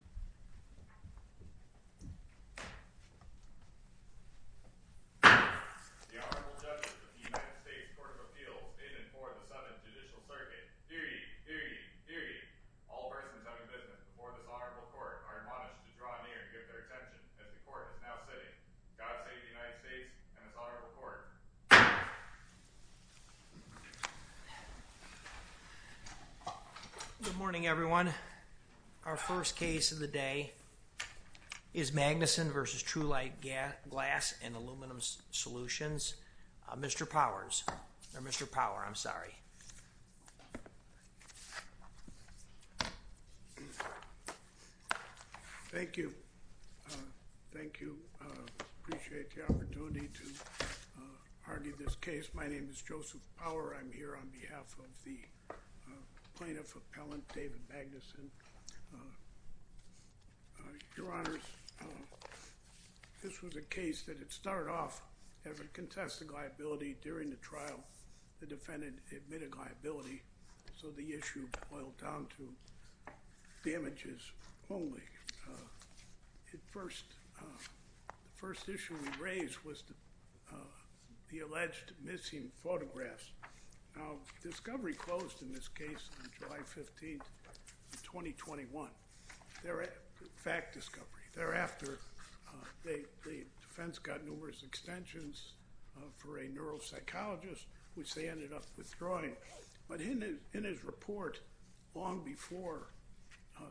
The Honorable Judges of the United States Court of Appeals, in and for the Summit Judicial Circuit. Hear ye, hear ye, hear ye. All persons having business before this Honorable Court are admonished to draw near and give their attention as the Court is now sitting. God save the United States and its Honorable Court. Good morning everyone. Our first case of the day is Magnuson v. Trulite Glass & Aluminum Solutions. Mr. Powers, or Mr. Power, I'm sorry. Thank you. Thank you. I appreciate the opportunity to argue this case. My name is Joseph Power. I'm here on behalf of the Plaintiff Appellant, David Magnuson. Your Honors, this was a case that had started off as a contested liability during the trial. The defendant admitted liability, so the issue boiled down to damages only. The first issue we raised was the alleged missing photographs. Now, discovery closed in this case on July 15, 2021, fact discovery. Thereafter, the defense got numerous extensions for a neuropsychologist, which they ended up withdrawing. But in his report, long before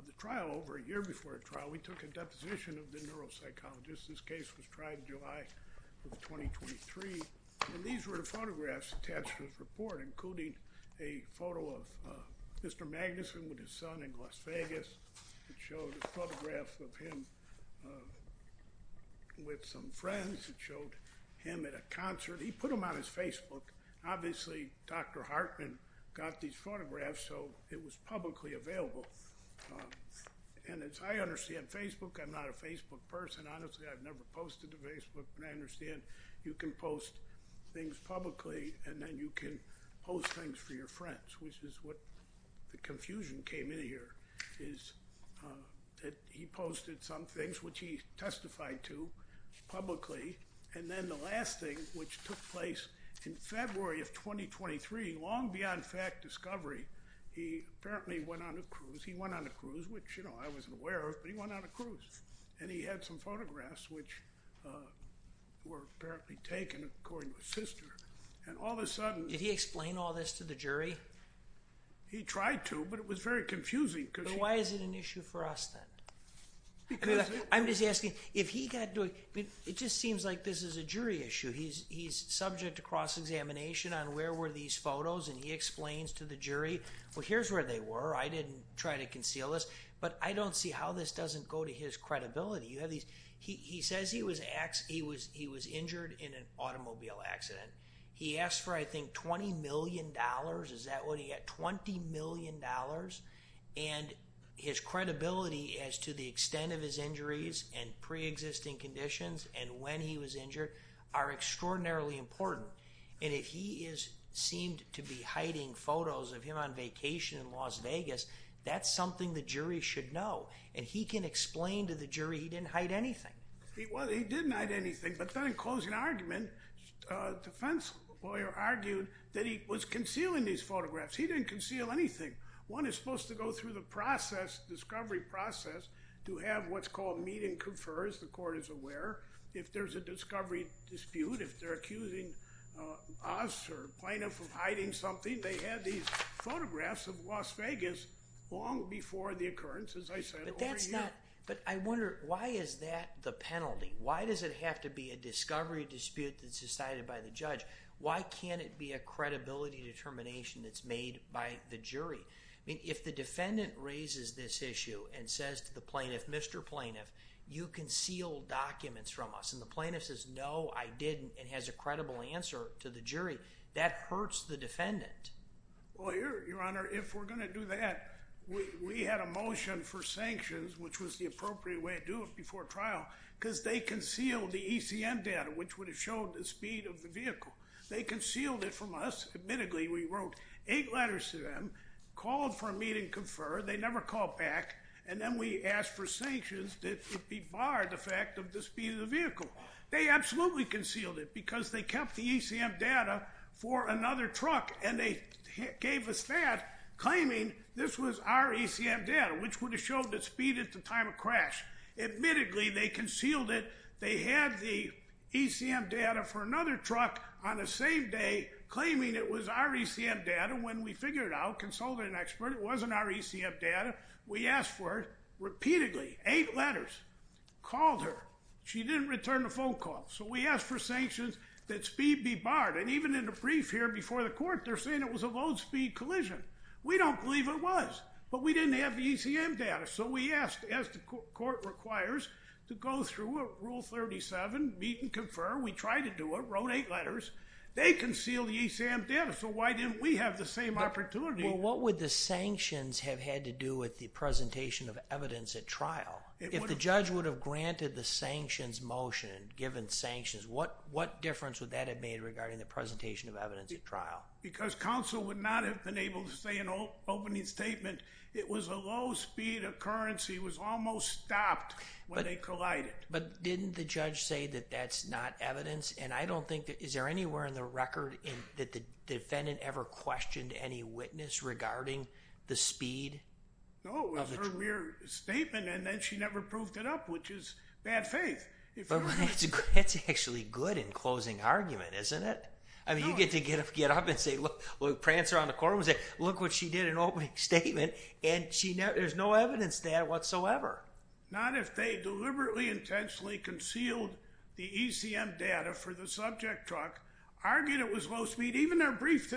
the trial, over a year before the trial, we took a deposition of the neuropsychologist. This case was tried in July of 2023, and these were the photographs attached to his report, including a photo of Mr. Magnuson with his son in Las Vegas. It showed a photograph of him with some friends. It showed him at a concert. He put them on his Facebook. Obviously, Dr. Hartman got these photographs, so it was publicly available. And as I understand Facebook, I'm not a Facebook person. Honestly, I've never posted to Facebook, but I understand you can post things publicly, and then you can post things for your friends, which is what the confusion came in here, is that he posted some things, which he testified to publicly. And then the last thing, which took place in February of 2023, long beyond fact discovery, he apparently went on a cruise. He went on a cruise, which I wasn't aware of, but he went on a cruise. And he had some photographs, which were apparently taken, according to his sister. And all of a sudden— Did he explain all this to the jury? He tried to, but it was very confusing. So why is it an issue for us, then? I'm just asking, if he got to—it just seems like this is a jury issue. He's subject to cross-examination on where were these photos, and he explains to the jury, well, here's where they were. I didn't try to conceal this. But I don't see how this doesn't go to his credibility. He says he was injured in an automobile accident. He asked for, I think, $20 million. Is that what he got, $20 million? And his credibility as to the extent of his injuries and preexisting conditions and when he was injured are extraordinarily important. And if he seemed to be hiding photos of him on vacation in Las Vegas, that's something the jury should know. And he can explain to the jury he didn't hide anything. Well, he didn't hide anything, but then in closing argument, the defense lawyer argued that he was concealing these photographs. He didn't conceal anything. One is supposed to go through the process, discovery process, to have what's called meet and confer, as the court is aware, if there's a discovery dispute, if they're accusing us or plaintiff of hiding something. They had these photographs of Las Vegas long before the occurrence, as I said, over a year. But I wonder, why is that the penalty? Why does it have to be a discovery dispute that's decided by the judge? Why can't it be a credibility determination that's made by the jury? If the defendant raises this issue and says to the plaintiff, Mr. Plaintiff, you concealed documents from us, and the plaintiff says, No, I didn't, and has a credible answer to the jury, that hurts the defendant. Well, Your Honor, if we're going to do that, we had a motion for sanctions, which was the appropriate way to do it before trial, because they concealed the ECM data, which would have showed the speed of the vehicle. They concealed it from us. Admittedly, we wrote eight letters to them, called for a meet and confer. They never called back. And then we asked for sanctions that it be barred, the fact of the speed of the vehicle. They absolutely concealed it, because they kept the ECM data for another truck, and they gave us that, claiming this was our ECM data, which would have showed the speed at the time of crash. Admittedly, they concealed it. They had the ECM data for another truck on the same day, claiming it was our ECM data. When we figured it out, consulted an expert, it wasn't our ECM data. We asked for it repeatedly, eight letters, called her. She didn't return a phone call. So we asked for sanctions that speed be barred. And even in the brief here before the court, they're saying it was a low-speed collision. We don't believe it was, but we didn't have the ECM data. So we asked, as the court requires, to go through Rule 37, meet and confer. We tried to do it, wrote eight letters. They concealed the ECM data, so why didn't we have the same opportunity? Well, what would the sanctions have had to do with the presentation of evidence at trial? If the judge would have granted the sanctions motion and given sanctions, what difference would that have made regarding the presentation of evidence at trial? Because counsel would not have been able to say in opening statement, it was a low-speed occurrence. It was almost stopped when they collided. But didn't the judge say that that's not evidence? And I don't think, is there anywhere in the record that the defendant ever questioned any witness regarding the speed of the truck? No, it was her mere statement, and then she never proved it up, which is bad faith. But that's actually good in closing argument, isn't it? I mean, you get to get up and say, look. Prancer on the court would say, look what she did in opening statement, and there's no evidence there whatsoever. Not if they deliberately intentionally concealed the ECM data for the subject truck, argued it was low speed, even their brief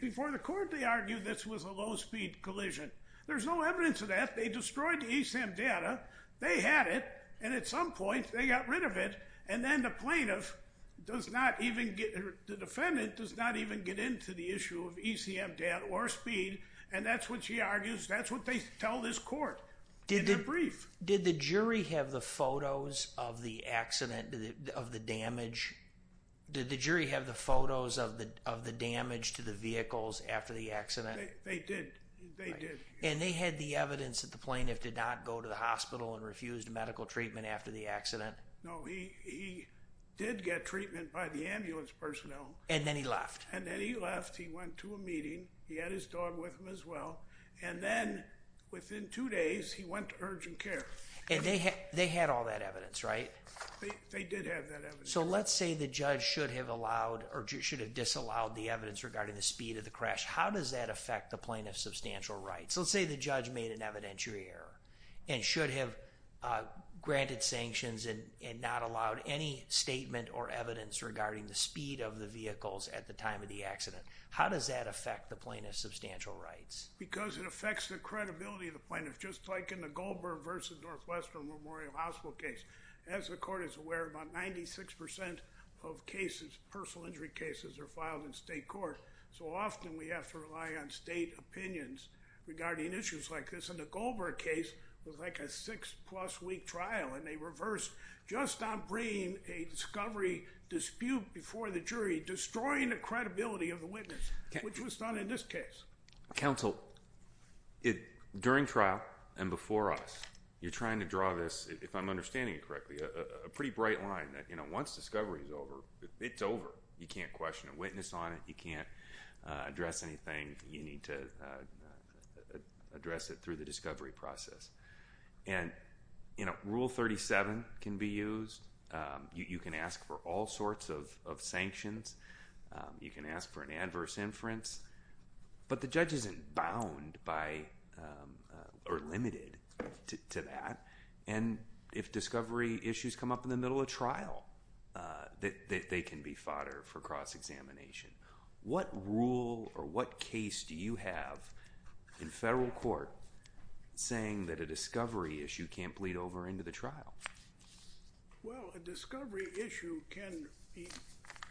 before the court, they argued this was a low-speed collision. There's no evidence of that. They destroyed the ECM data. They had it, and at some point, they got rid of it, and then the plaintiff does not even get, the defendant does not even get into the issue of ECM data or speed, and that's what she argues. That's what they tell this court in their brief. Did the jury have the photos of the accident, of the damage? Did the jury have the photos of the damage to the vehicles after the accident? They did. They did. And they had the evidence that the plaintiff did not go to the hospital and refused medical treatment after the accident? No, he did get treatment by the ambulance personnel. And then he left? And then he left. He went to a meeting. He had his dog with him as well, and then within two days, he went to urgent care. And they had all that evidence, right? They did have that evidence. So let's say the judge should have allowed or should have disallowed the evidence regarding the speed of the crash. How does that affect the plaintiff's substantial rights? Let's say the judge made an evidentiary error and should have granted sanctions and not allowed any statement or evidence regarding the speed of the vehicles at the time of the accident. How does that affect the plaintiff's substantial rights? Because it affects the credibility of the plaintiff, just like in the Goldberg v. Northwestern Memorial Hospital case. As the court is aware, about 96% of cases, personal injury cases, are filed in state court, so often we have to rely on state opinions regarding issues like this. And the Goldberg case was like a six-plus week trial, and they reversed just on bringing a discovery dispute before the jury, destroying the credibility of the witness, which was not in this case. Counsel, during trial and before us, you're trying to draw this, if I'm understanding it correctly, a pretty bright line. Once discovery is over, it's over. You can't question a witness on it. You can't address anything. You need to address it through the discovery process. And Rule 37 can be used. You can ask for all sorts of sanctions. You can ask for an adverse inference. But the judge isn't bound by or limited to that. And if discovery issues come up in the middle of trial, they can be fodder for cross-examination. What rule or what case do you have in federal court saying that a discovery issue can't bleed over into the trial? Well, a discovery issue can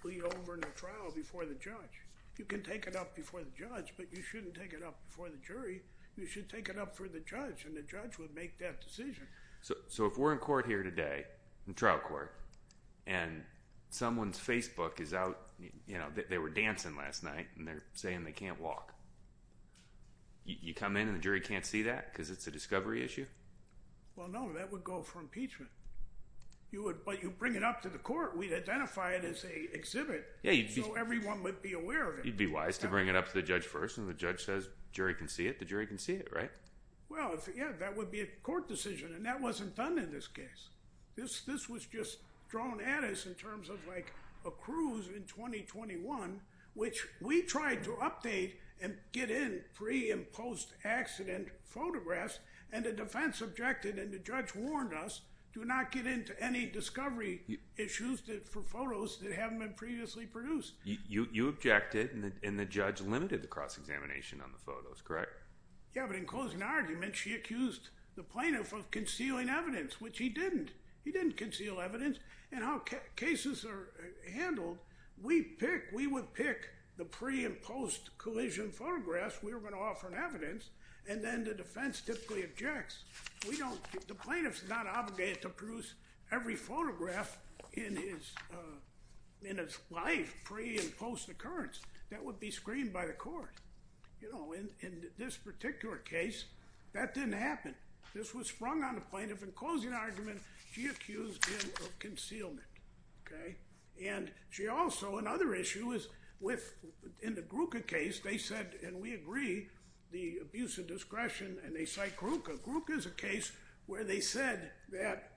bleed over into trial before the judge. You can take it up before the judge, but you shouldn't take it up before the jury. You should take it up for the judge, and the judge would make that decision. So if we're in court here today, in trial court, and someone's Facebook is out, you know, they were dancing last night, and they're saying they can't walk, you come in and the jury can't see that because it's a discovery issue? Well, no, that would go for impeachment. But you bring it up to the court. We'd identify it as a exhibit so everyone would be aware of it. You'd be wise to bring it up to the judge first, and the judge says jury can see it, the jury can see it, right? Well, yeah, that would be a court decision, and that wasn't done in this case. This was just thrown at us in terms of like a cruise in 2021, which we tried to update and get in pre- and post-accident photographs, and the defense objected, and the judge warned us, do not get into any discovery issues for photos that haven't been previously produced. You objected, and the judge limited the cross-examination on the photos, correct? Yeah, but in closing argument, she accused the plaintiff of concealing evidence, which he didn't. He didn't conceal evidence, and how cases are handled, we pick, we would pick the pre- and post-collision photographs we were going to offer in evidence, and then the defense typically objects. We don't, the plaintiff's not obligated to produce every photograph in his life pre- and post-occurrence. That would be screened by the court. You know, in this particular case, that didn't happen. This was sprung on the plaintiff in closing argument. She accused him of concealment, okay? And she also, another issue is with, in the Gruca case, they said, and we agree, the abuse of discretion, and they cite Gruca. Gruca is a case where they said that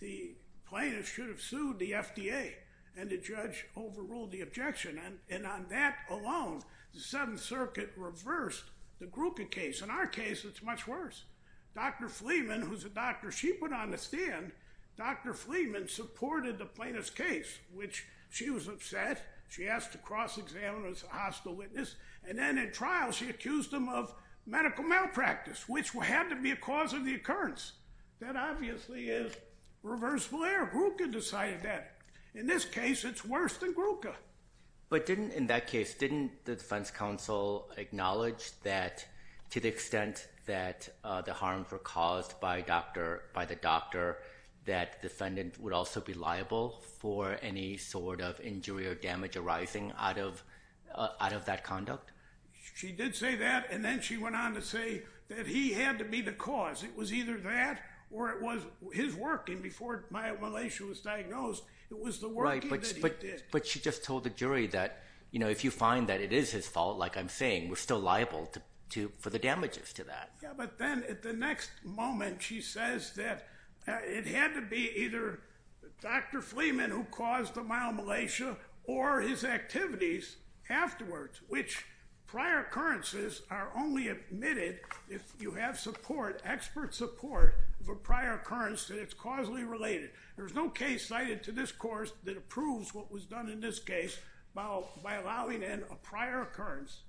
the plaintiff should have sued the FDA, and the judge overruled the objection, and on that alone, the Seventh Circuit reversed the Gruca case. In our case, it's much worse. Dr. Fleeman, who's a doctor she put on the stand, Dr. Fleeman supported the plaintiff's case, which she was upset. She asked to cross-examine her as a hostile witness, and then in trial, she accused him of medical malpractice, which had to be a cause of the occurrence. That obviously is reversible error. Gruca decided that. In this case, it's worse than Gruca. But didn't, in that case, didn't the defense counsel acknowledge that to the extent that the harms were caused by the doctor, that defendant would also be liable for any sort of injury or damage arising out of that conduct? She did say that, and then she went on to say that he had to be the cause. It was either that, or it was his work. Before Myomalacia was diagnosed, it was the work that he did. But she just told the jury that if you find that it is his fault, like I'm saying, we're still liable for the damages to that. Yeah, but then at the next moment, she says that it had to be either Dr. Fleeman who caused the Myomalacia or his activities afterwards, which prior occurrences are only admitted if you have support, expert support of a prior occurrence that it's causally related. There's no case cited to this course that approves what was done in this case by allowing in a prior occurrence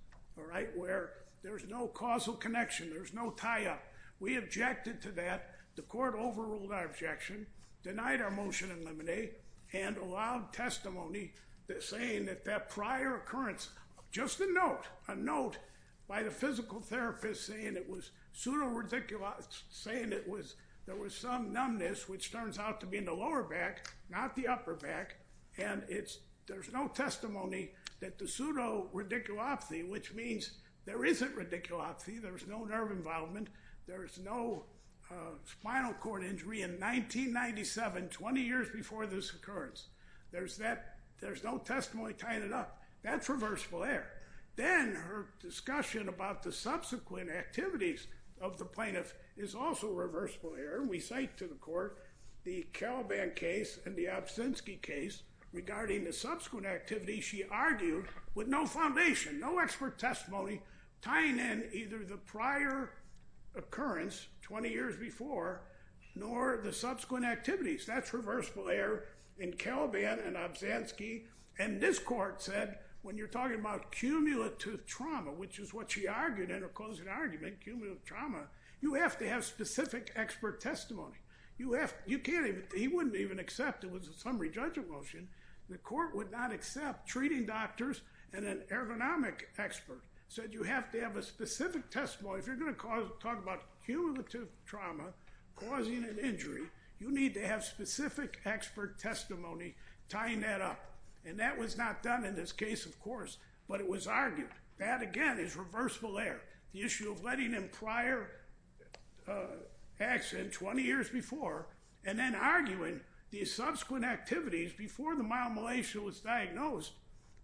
where there's no causal connection, there's no tie-up. We objected to that. The court overruled our objection, denied our motion in Lemonade, and allowed testimony saying that that prior occurrence, just a note, by the physical therapist saying there was some numbness, which turns out to be in the lower back, not the upper back, and there's no testimony that the pseudo-radiculopathy, which means there isn't radiculopathy, there's no nerve involvement, there's no spinal cord injury in 1997, 20 years before this occurrence. There's no testimony tying it up. That's reversible error. Then her discussion about the subsequent activities of the plaintiff is also reversible error. We cite to the court the Caliban case and the Obszanski case regarding the subsequent activities she argued with no foundation, no expert testimony tying in either the prior occurrence 20 years before nor the subsequent activities. That's reversible error in Caliban and Obszanski. This court said when you're talking about cumulative trauma, which is what she argued in her closing argument, cumulative trauma, you have to have specific expert testimony. He wouldn't even accept it was a summary judgment motion. The court would not accept treating doctors and an ergonomic expert said you have to have a specific testimony. If you're going to talk about cumulative trauma causing an injury, you need to have specific expert testimony tying that up. And that was not done in this case, of course, but it was argued. That, again, is reversible error. The issue of letting in prior accident 20 years before and then arguing the subsequent activities before the myomalacia was diagnosed,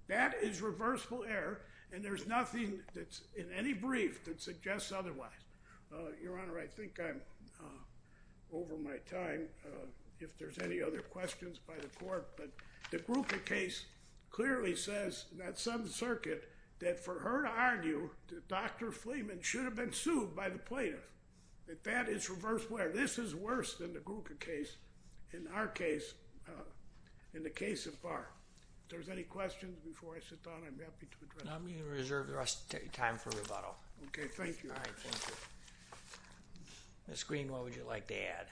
that is reversible error and there's nothing that's in any brief that suggests otherwise. Your Honor, I think I'm over my time. If there's any other questions by the court, but the Gruca case clearly says that some circuit that for her to argue that Dr. Fleeman should have been sued by the plaintiff, that that is reversible error. This is worse than the Gruca case, in our case, in the case of Barr. If there's any questions before I sit down, I'm happy to address them. I'm going to reserve the rest of the time for rebuttal. Okay. Thank you. All right. Thank you. Ms. Green, what would you like to add?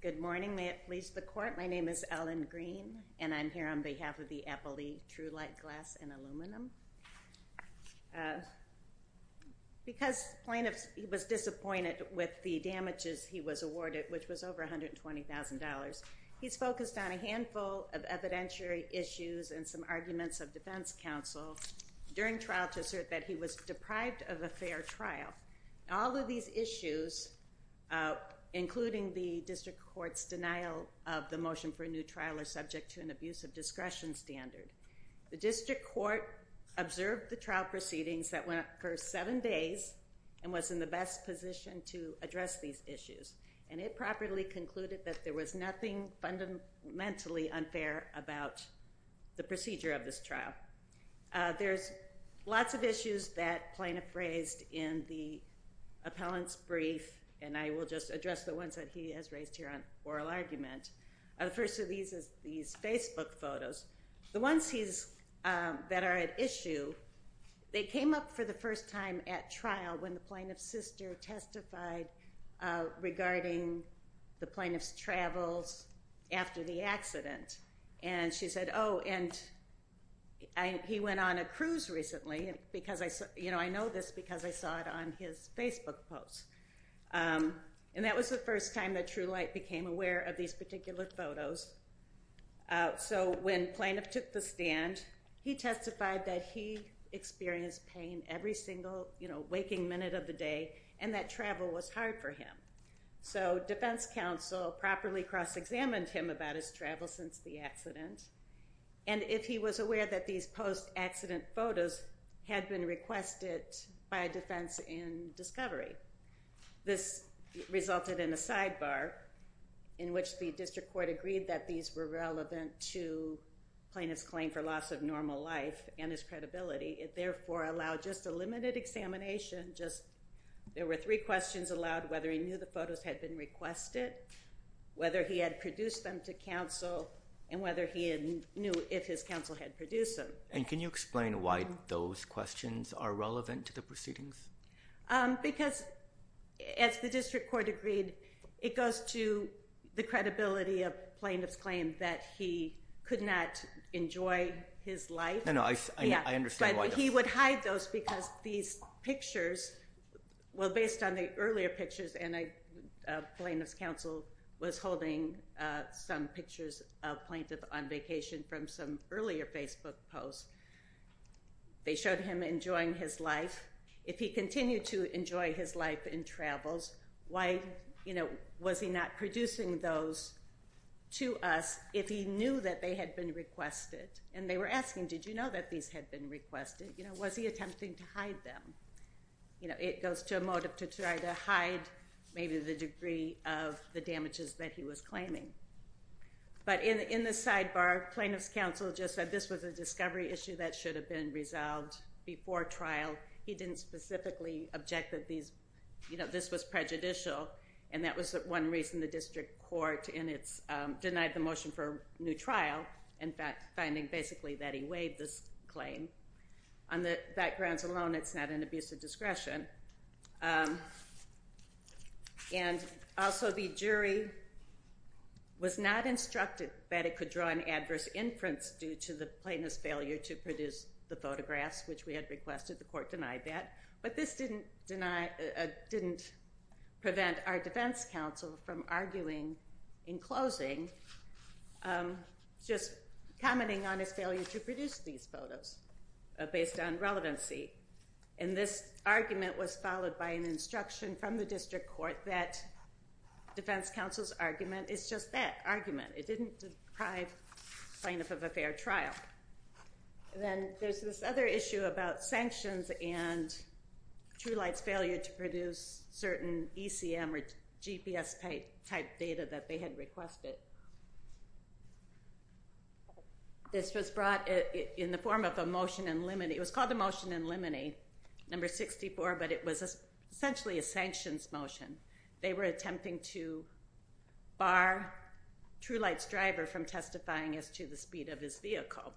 Good morning. May it please the court. My name is Ellen Green, and I'm here on behalf of the Apple League True Light Glass and Aluminum. Because the plaintiff was disappointed with the damages he was awarded, which was over $120,000, he's focused on a handful of evidentiary issues and some arguments of defense counsel during trial to assert that he was deprived of a fair trial. All of these issues, including the district court's denial of the motion for a new trial are subject to an abuse of discretion standard. The district court observed the trial proceedings that went for seven days and was in the best position to address these issues. And it properly concluded that there was nothing fundamentally unfair about the procedure of this trial. There's lots of issues that plaintiff raised in the appellant's brief, and I will just address the ones that he has raised here on oral argument. The first of these is these Facebook photos. The ones that are at issue, they came up for the first time at trial when the plaintiff's sister testified regarding the plaintiff's travels after the accident. And she said, oh, and he went on a cruise recently. I know this because I saw it on his Facebook post. And that was the first time that True Light became aware of these particular photos. So when plaintiff took the stand, he testified that he experienced pain every single waking minute of the day and that travel was hard for him. So defense counsel properly cross-examined him about his travel since the accident and if he was aware that these post-accident photos had been requested by defense in discovery. This resulted in a sidebar in which the district court agreed that these were relevant to plaintiff's claim for loss of normal life and his credibility. It therefore allowed just a limited examination. There were three questions allowed, whether he knew the photos had been requested, whether he had produced them to counsel, and whether he knew if his counsel had produced them. And can you explain why those questions are relevant to the proceedings? Because as the district court agreed, it goes to the credibility of plaintiff's claim that he could not enjoy his life. No, no, I understand why that is. But he would hide those because these pictures, well based on the earlier pictures, and plaintiff's counsel was holding some pictures of plaintiff on vacation from some earlier Facebook post, they showed him enjoying his life. If he continued to enjoy his life in travels, why was he not producing those to us if he knew that they had been requested? And they were asking, did you know that these had been requested? Was he attempting to hide them? It goes to a motive to try to hide maybe the degree of the damages that he was claiming. But in the sidebar, plaintiff's counsel just said this was a discovery issue that should have been resolved before trial. He didn't specifically object that this was prejudicial, and that was one reason the district court denied the motion for a new trial, in fact, finding basically that he waived this claim. On the backgrounds alone, it's not an abuse of discretion. And also the jury was not instructed that it could draw an adverse inference due to the plaintiff's failure to produce the photographs, which we had requested. The court denied that. But this didn't prevent our defense counsel from arguing in closing, just commenting on his failure to produce these photos based on relevancy. And this argument was followed by an instruction from the district court that defense counsel's argument is just that argument. It didn't deprive plaintiff of a fair trial. Then there's this other issue about sanctions and Truelight's failure to produce certain ECM or GPS-type data that they had requested. This was brought in the form of a motion in limine. It was called the motion in limine, number 64, but it was essentially a sanctions motion. They were attempting to bar Truelight's driver from testifying as to the speed of his vehicle.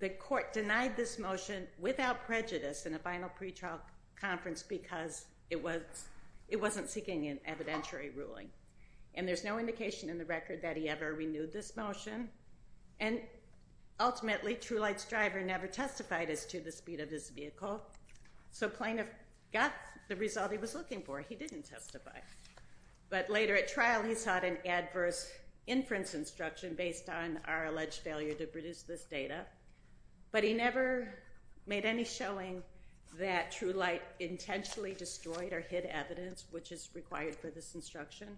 The court denied this motion without prejudice in a final pretrial conference because it wasn't seeking an evidentiary ruling. And there's no indication in the record that he ever renewed this motion. And ultimately, Truelight's driver never testified as to the speed of his vehicle. So plaintiff got the result he was looking for. He didn't testify. But later at trial, he sought an adverse inference instruction based on our alleged failure to produce this data. But he never made any showing that Truelight intentionally destroyed or hid evidence, which is required for this instruction,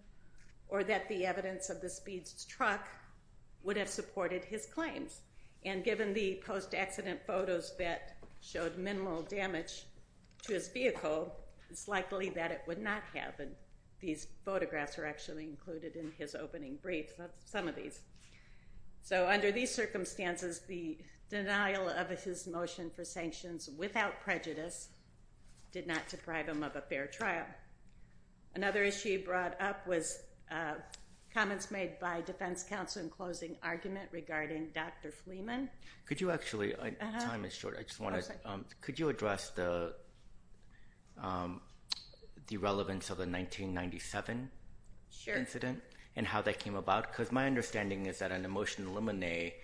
or that the evidence of the speed's truck would have supported his claims. And given the post-accident photos that showed minimal damage to his vehicle, it's likely that it would not have. And these photographs are actually included in his opening brief. That's some of these. So under these circumstances, the denial of his motion for sanctions without prejudice did not deprive him of a fair trial. Another issue brought up was comments made by defense counsel in closing argument regarding Dr. Fleeman. Could you actually address the relevance of the 1997 incident and how that came about? Because my understanding is that in the motion to eliminate,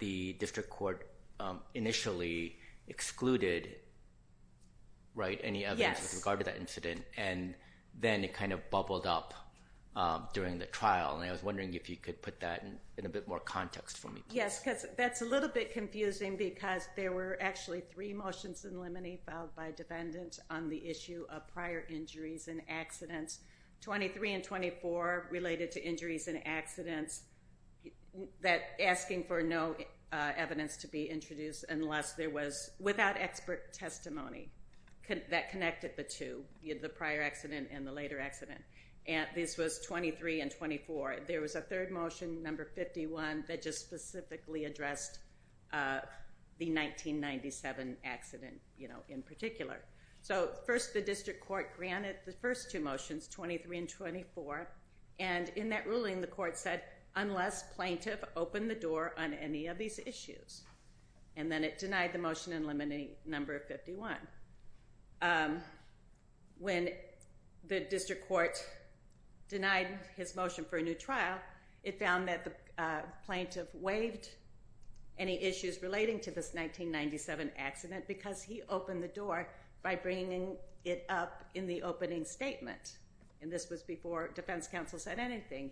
the district court initially excluded any evidence with regard to that incident, and then it kind of bubbled up during the trial. And I was wondering if you could put that in a bit more context for me. Yes, because that's a little bit confusing because there were actually three motions in limine filed by defendants on the issue of prior injuries and accidents, 23 and 24 related to injuries and accidents, asking for no evidence to be introduced unless there was, without expert testimony that connected the two, the prior accident and the later accident. This was 23 and 24. There was a third motion, number 51, that just specifically addressed the 1997 accident in particular. So first the district court granted the first two motions, 23 and 24, and in that ruling the court said, unless plaintiff opened the door on any of these issues, and then it denied the motion in limine number 51. When the district court denied his motion for a new trial, it found that the plaintiff waived any issues relating to this 1997 accident because he opened the door by bringing it up in the opening statement. And this was before defense counsel said anything.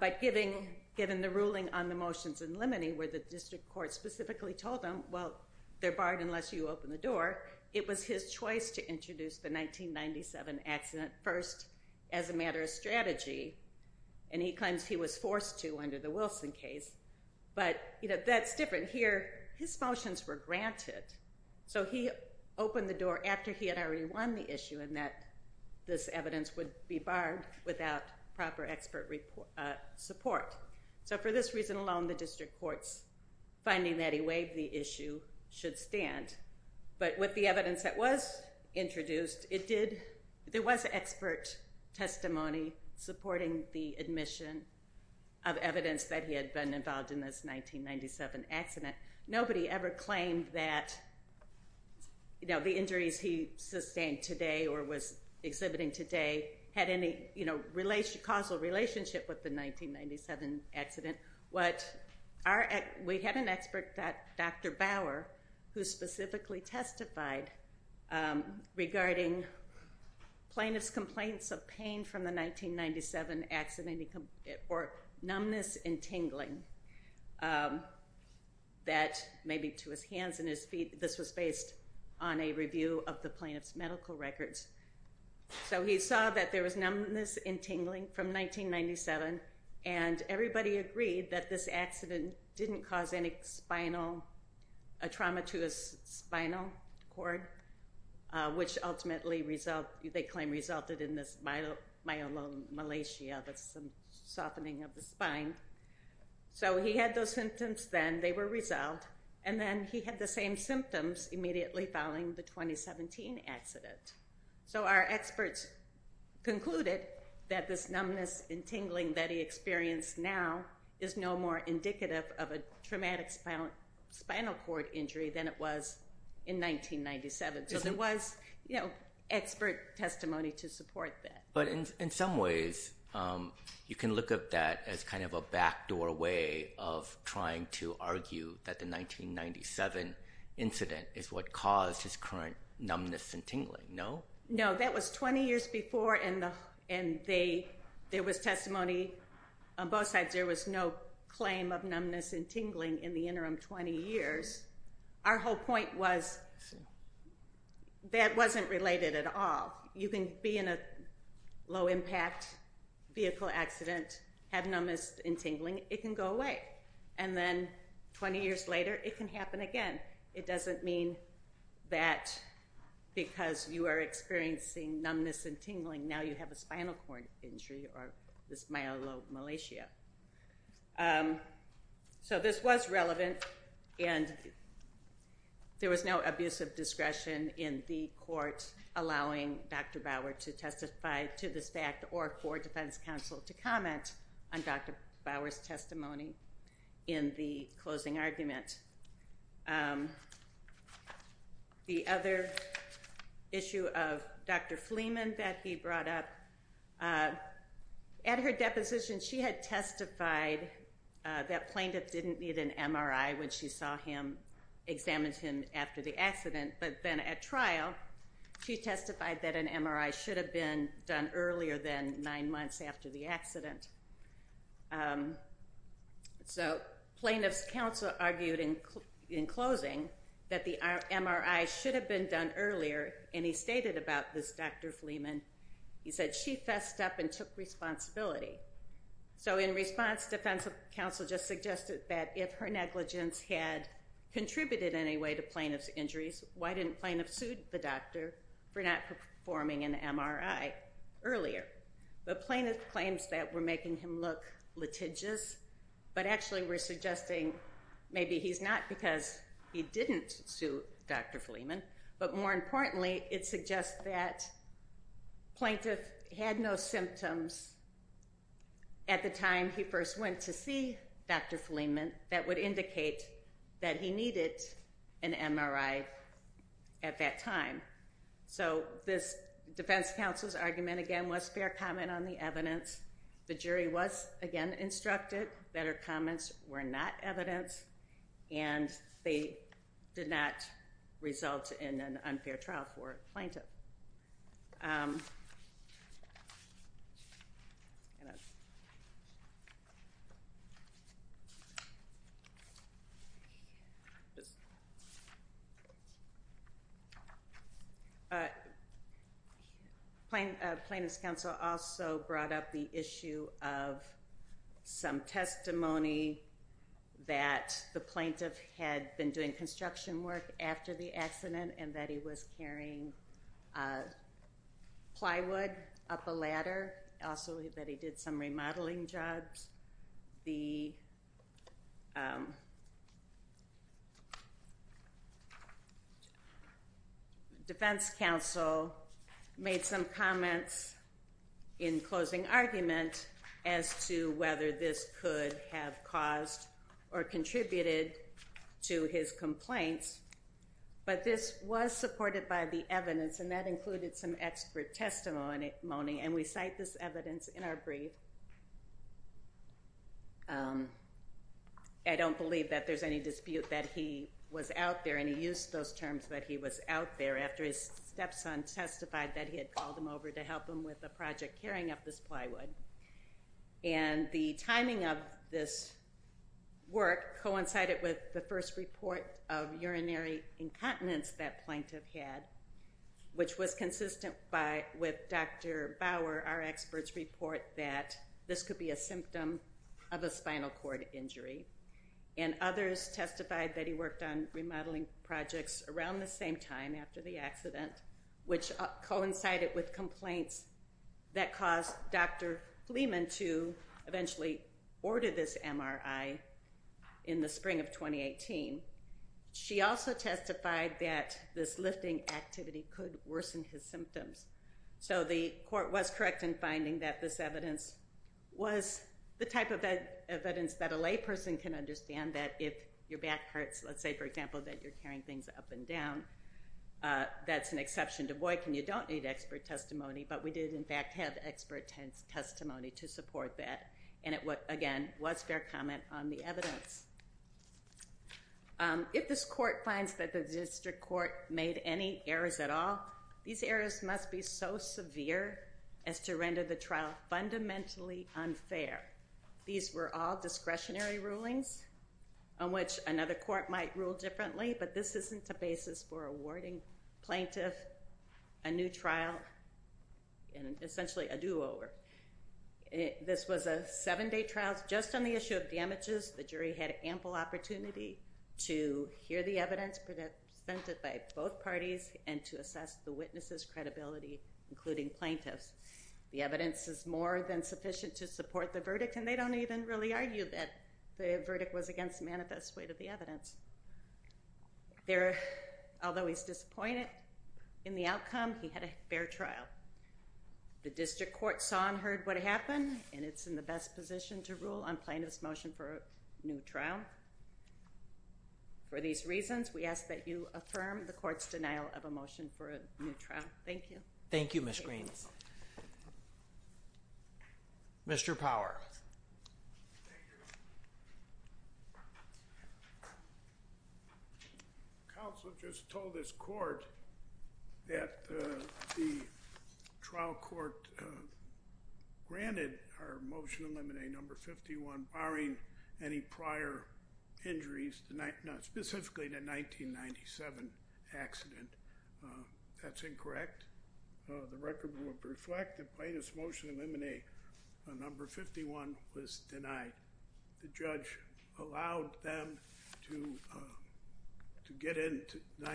But given the ruling on the motions in limine where the district court specifically told them, well, they're barred unless you open the door, it was his choice to introduce the 1997 accident first as a matter of strategy, and he claims he was forced to under the Wilson case. But, you know, that's different here. His motions were granted. So he opened the door after he had already won the issue in that this evidence would be barred without proper expert support. So for this reason alone, the district court's finding that he waived the issue should stand. But with the evidence that was introduced, there was expert testimony supporting the admission of evidence that he had been involved in this 1997 accident. Nobody ever claimed that, you know, the injuries he sustained today or was exhibiting today had any causal relationship with the 1997 accident. We had an expert, Dr. Bauer, who specifically testified regarding plaintiff's complaints of pain from the 1997 accident or numbness and tingling that, maybe to his hands and his feet, this was based on a review of the plaintiff's medical records. So he saw that there was numbness and tingling from 1997, and everybody agreed that this accident didn't cause any spinal, a trauma to his spinal cord, which ultimately they claim resulted in this myelomalacia, that's some softening of the spine. So he had those symptoms then. They were resolved. And then he had the same symptoms immediately following the 2017 accident. So our experts concluded that this numbness and tingling that he experienced now is no more indicative of a traumatic spinal cord injury than it was in 1997. So there was expert testimony to support that. But in some ways, you can look at that as kind of a backdoor way of trying to argue that the 1997 incident is what caused his current numbness and tingling. No? No, that was 20 years before, and there was testimony on both sides. There was no claim of numbness and tingling in the interim 20 years. Our whole point was that wasn't related at all. You can be in a low-impact vehicle accident, have numbness and tingling. It can go away. And then 20 years later, it can happen again. And it doesn't mean that because you are experiencing numbness and tingling, now you have a spinal cord injury or this myelomalacia. So this was relevant, and there was no abusive discretion in the court allowing Dr. Bauer to testify to this fact or for defense counsel to comment on Dr. Bauer's testimony in the closing argument. The other issue of Dr. Fleeman that he brought up, at her deposition she had testified that plaintiff didn't need an MRI when she saw him, examined him after the accident. But then at trial, she testified that an MRI should have been done earlier than nine months after the accident. So plaintiff's counsel argued in closing that the MRI should have been done earlier, and he stated about this Dr. Fleeman. He said she fessed up and took responsibility. So in response, defense counsel just suggested that if her negligence had contributed in any way to plaintiff's injuries, why didn't plaintiff sue the doctor for not performing an MRI earlier? But plaintiff claims that we're making him look litigious, but actually we're suggesting maybe he's not because he didn't sue Dr. Fleeman, but more importantly it suggests that plaintiff had no symptoms at the time he first went to see Dr. Fleeman that would indicate that he needed an MRI at that time. So this defense counsel's argument, again, was fair comment on the evidence. The jury was, again, instructed that her comments were not evidence, and they did not result in an unfair trial for plaintiff. Plaintiff's counsel also brought up the issue of some testimony that the plaintiff had been doing construction work and that he was carrying plywood up a ladder. Also that he did some remodeling jobs. The defense counsel made some comments in closing argument as to whether this could have caused or contributed to his complaints. But this was supported by the evidence, and that included some expert testimony, and we cite this evidence in our brief. I don't believe that there's any dispute that he was out there, and he used those terms that he was out there after his stepson testified that he had called him over to help him with a project carrying up this plywood. And the timing of this work coincided with the first report of urinary incontinence that plaintiff had, which was consistent with Dr. Bauer, our expert's report, that this could be a symptom of a spinal cord injury. And others testified that he worked on remodeling projects around the same time after the accident, which coincided with complaints that caused Dr. Fleeman to eventually order this MRI in the spring of 2018. She also testified that this lifting activity could worsen his symptoms. So the court was correct in finding that this evidence was the type of evidence that a layperson can understand that if your back hurts, let's say, for example, that you're carrying things up and down, that's an exception to Boykin. You don't need expert testimony, but we did, in fact, have expert testimony to support that. And it, again, was fair comment on the evidence. If this court finds that the district court made any errors at all, these errors must be so severe as to render the trial fundamentally unfair. These were all discretionary rulings on which another court might rule differently, but this isn't a basis for awarding plaintiff a new trial and essentially a do-over. This was a seven-day trial. Just on the issue of damages, the jury had ample opportunity to hear the evidence presented by both parties and to assess the witness's credibility, including plaintiff's. The evidence is more than sufficient to support the verdict, and they don't even really argue that the verdict was against the manifest weight of the evidence. Although he's disappointed in the outcome, he had a fair trial. The district court saw and heard what happened, and it's in the best position to rule on plaintiff's motion for a new trial. For these reasons, we ask that you affirm the court's denial of a motion for a new trial. Thank you. Thank you, Ms. Green. Mr. Power. Counsel just told this court that the trial court granted our motion to eliminate number 51, barring any prior injuries, not specifically the 1997 accident. That's incorrect. The record would reflect that plaintiff's motion to eliminate number 51 was denied. The judge allowed them to get into the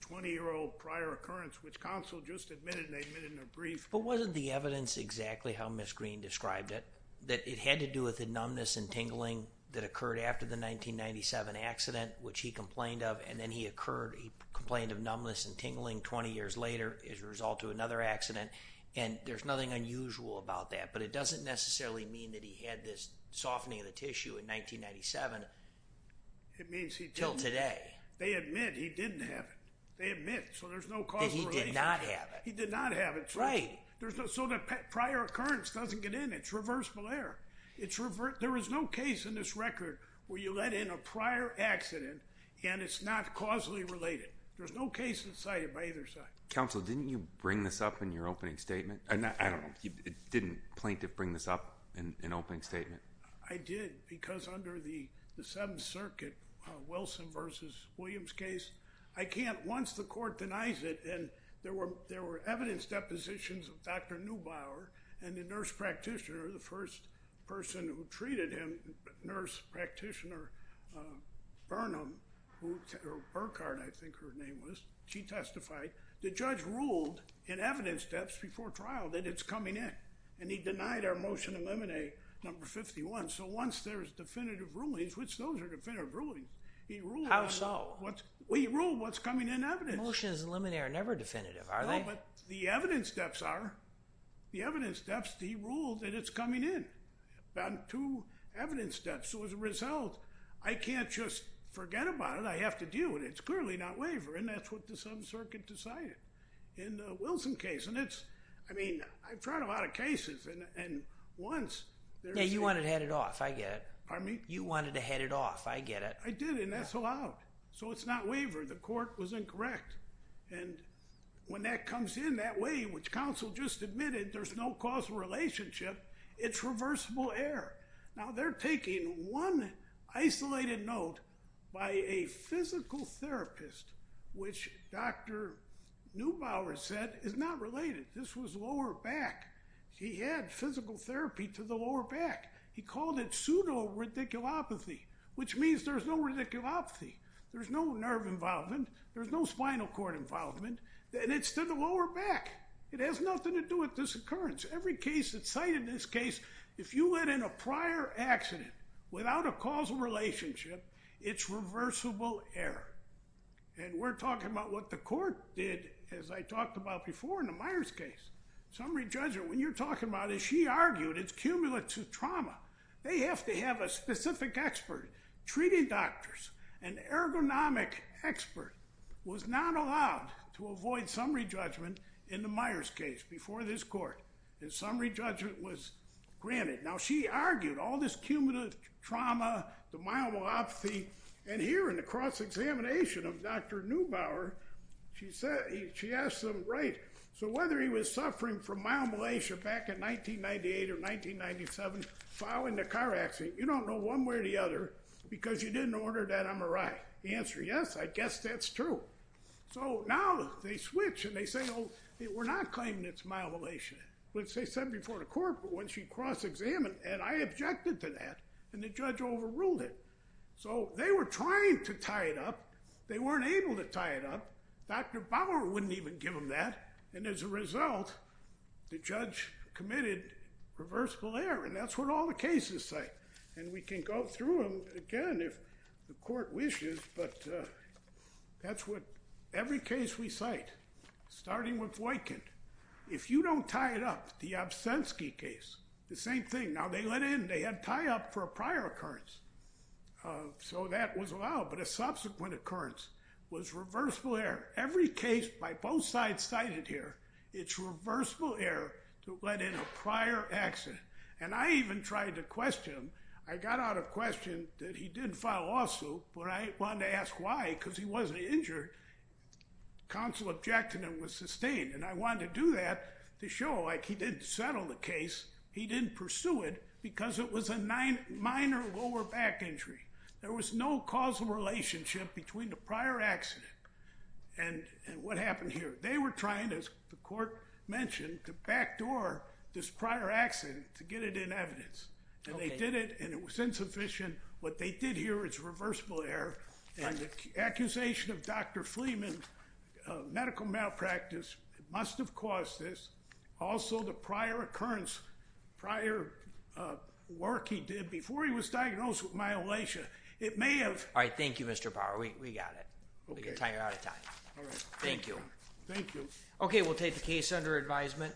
20-year-old prior occurrence, which counsel just admitted, and they admitted in a brief. But wasn't the evidence exactly how Ms. Green described it, that it had to do with the numbness and tingling that occurred after the 1997 accident, which he complained of, and then he occurred. He complained of numbness and tingling 20 years later as a result of another accident, and there's nothing unusual about that. But it doesn't necessarily mean that he had this softening of the tissue in 1997 until today. They admit he didn't have it. They admit, so there's no causal relation. That he did not have it. He did not have it. Right. So the prior occurrence doesn't get in. It's reversible error. There is no case in this record where you let in a prior accident, and it's not causally related. There's no case that's cited by either side. Counsel, didn't you bring this up in your opening statement? I don't know. Didn't plaintiff bring this up in an opening statement? I did, because under the Seventh Circuit, Wilson v. Williams case, I can't, once the court denies it, and there were evidence depositions of Dr. Neubauer and the nurse practitioner, the first person who treated him, nurse practitioner Burnham, or Burkhard, I think her name was. She testified. The judge ruled in evidence steps before trial that it's coming in, and he denied our motion to eliminate number 51. So once there's definitive rulings, which those are definitive rulings. How so? He ruled what's coming in evidence. Motions eliminated are never definitive, are they? No, but the evidence steps are. The evidence steps, he ruled that it's coming in, about two evidence steps. So as a result, I can't just forget about it. I have to deal with it. It's clearly not waiver, and that's what the Seventh Circuit decided in the Wilson case, and it's, I mean, I've tried a lot of cases, and once there's a- Yeah, you wanted to head it off. I get it. Pardon me? You wanted to head it off. I get it. I did, and that's allowed. So it's not waiver. The court was incorrect. And when that comes in that way, which counsel just admitted, there's no causal relationship, it's reversible error. Now, they're taking one isolated note by a physical therapist, which Dr. Neubauer said is not related. This was lower back. He had physical therapy to the lower back. He called it pseudo-ridiculopathy, which means there's no ridiculopathy. There's no nerve involvement. There's no spinal cord involvement, and it's to the lower back. It has nothing to do with this occurrence. Every case that's cited in this case, if you let in a prior accident without a causal relationship, it's reversible error. And we're talking about what the court did, as I talked about before in the Myers case. Summary judge, when you're talking about it, she argued it's cumulative trauma. They have to have a specific expert, treating doctors, an ergonomic expert was not allowed to avoid summary judgment in the Myers case before this court. The summary judgment was granted. Now, she argued all this cumulative trauma, the myelomalopathy, and here in the cross-examination of Dr. Neubauer, she asked them, right, so whether he was suffering from myelomalacia back in 1998 or 1997 following the car accident, you don't know one way or the other because you didn't order that MRI. The answer, yes, I guess that's true. So now they switch and they say, oh, we're not claiming it's myelomalacia. Which they said before the court, but when she cross-examined, and I objected to that, and the judge overruled it. So they were trying to tie it up. They weren't able to tie it up. Dr. Neubauer wouldn't even give them that. And as a result, the judge committed reversible error, and that's what all the cases say. And we can go through them again if the court wishes, but that's what every case we cite, starting with Voigtkind. If you don't tie it up, the Obstensky case, the same thing. Now, they let in, they had tie-up for a prior occurrence, so that was allowed, but a subsequent occurrence was reversible error. Every case by both sides cited here, it's reversible error to let in a prior accident. And I even tried to question him. I got out of question that he didn't file lawsuit, but I wanted to ask why, because he wasn't injured. Counsel objected and was sustained, and I wanted to do that to show, like, he didn't settle the case, he didn't pursue it, because it was a minor lower back injury. There was no causal relationship between the prior accident and what happened here. They were trying, as the court mentioned, to backdoor this prior accident to get it in evidence. And they did it, and it was insufficient. What they did here is reversible error. And the accusation of Dr. Fleeman, medical malpractice, must have caused this. Also, the prior occurrence, prior work he did, before he was diagnosed with myeloma, it may have... All right, thank you, Mr. Power. We got it. We're going to tie you out of time. Thank you. Okay, we'll take the case under advisement.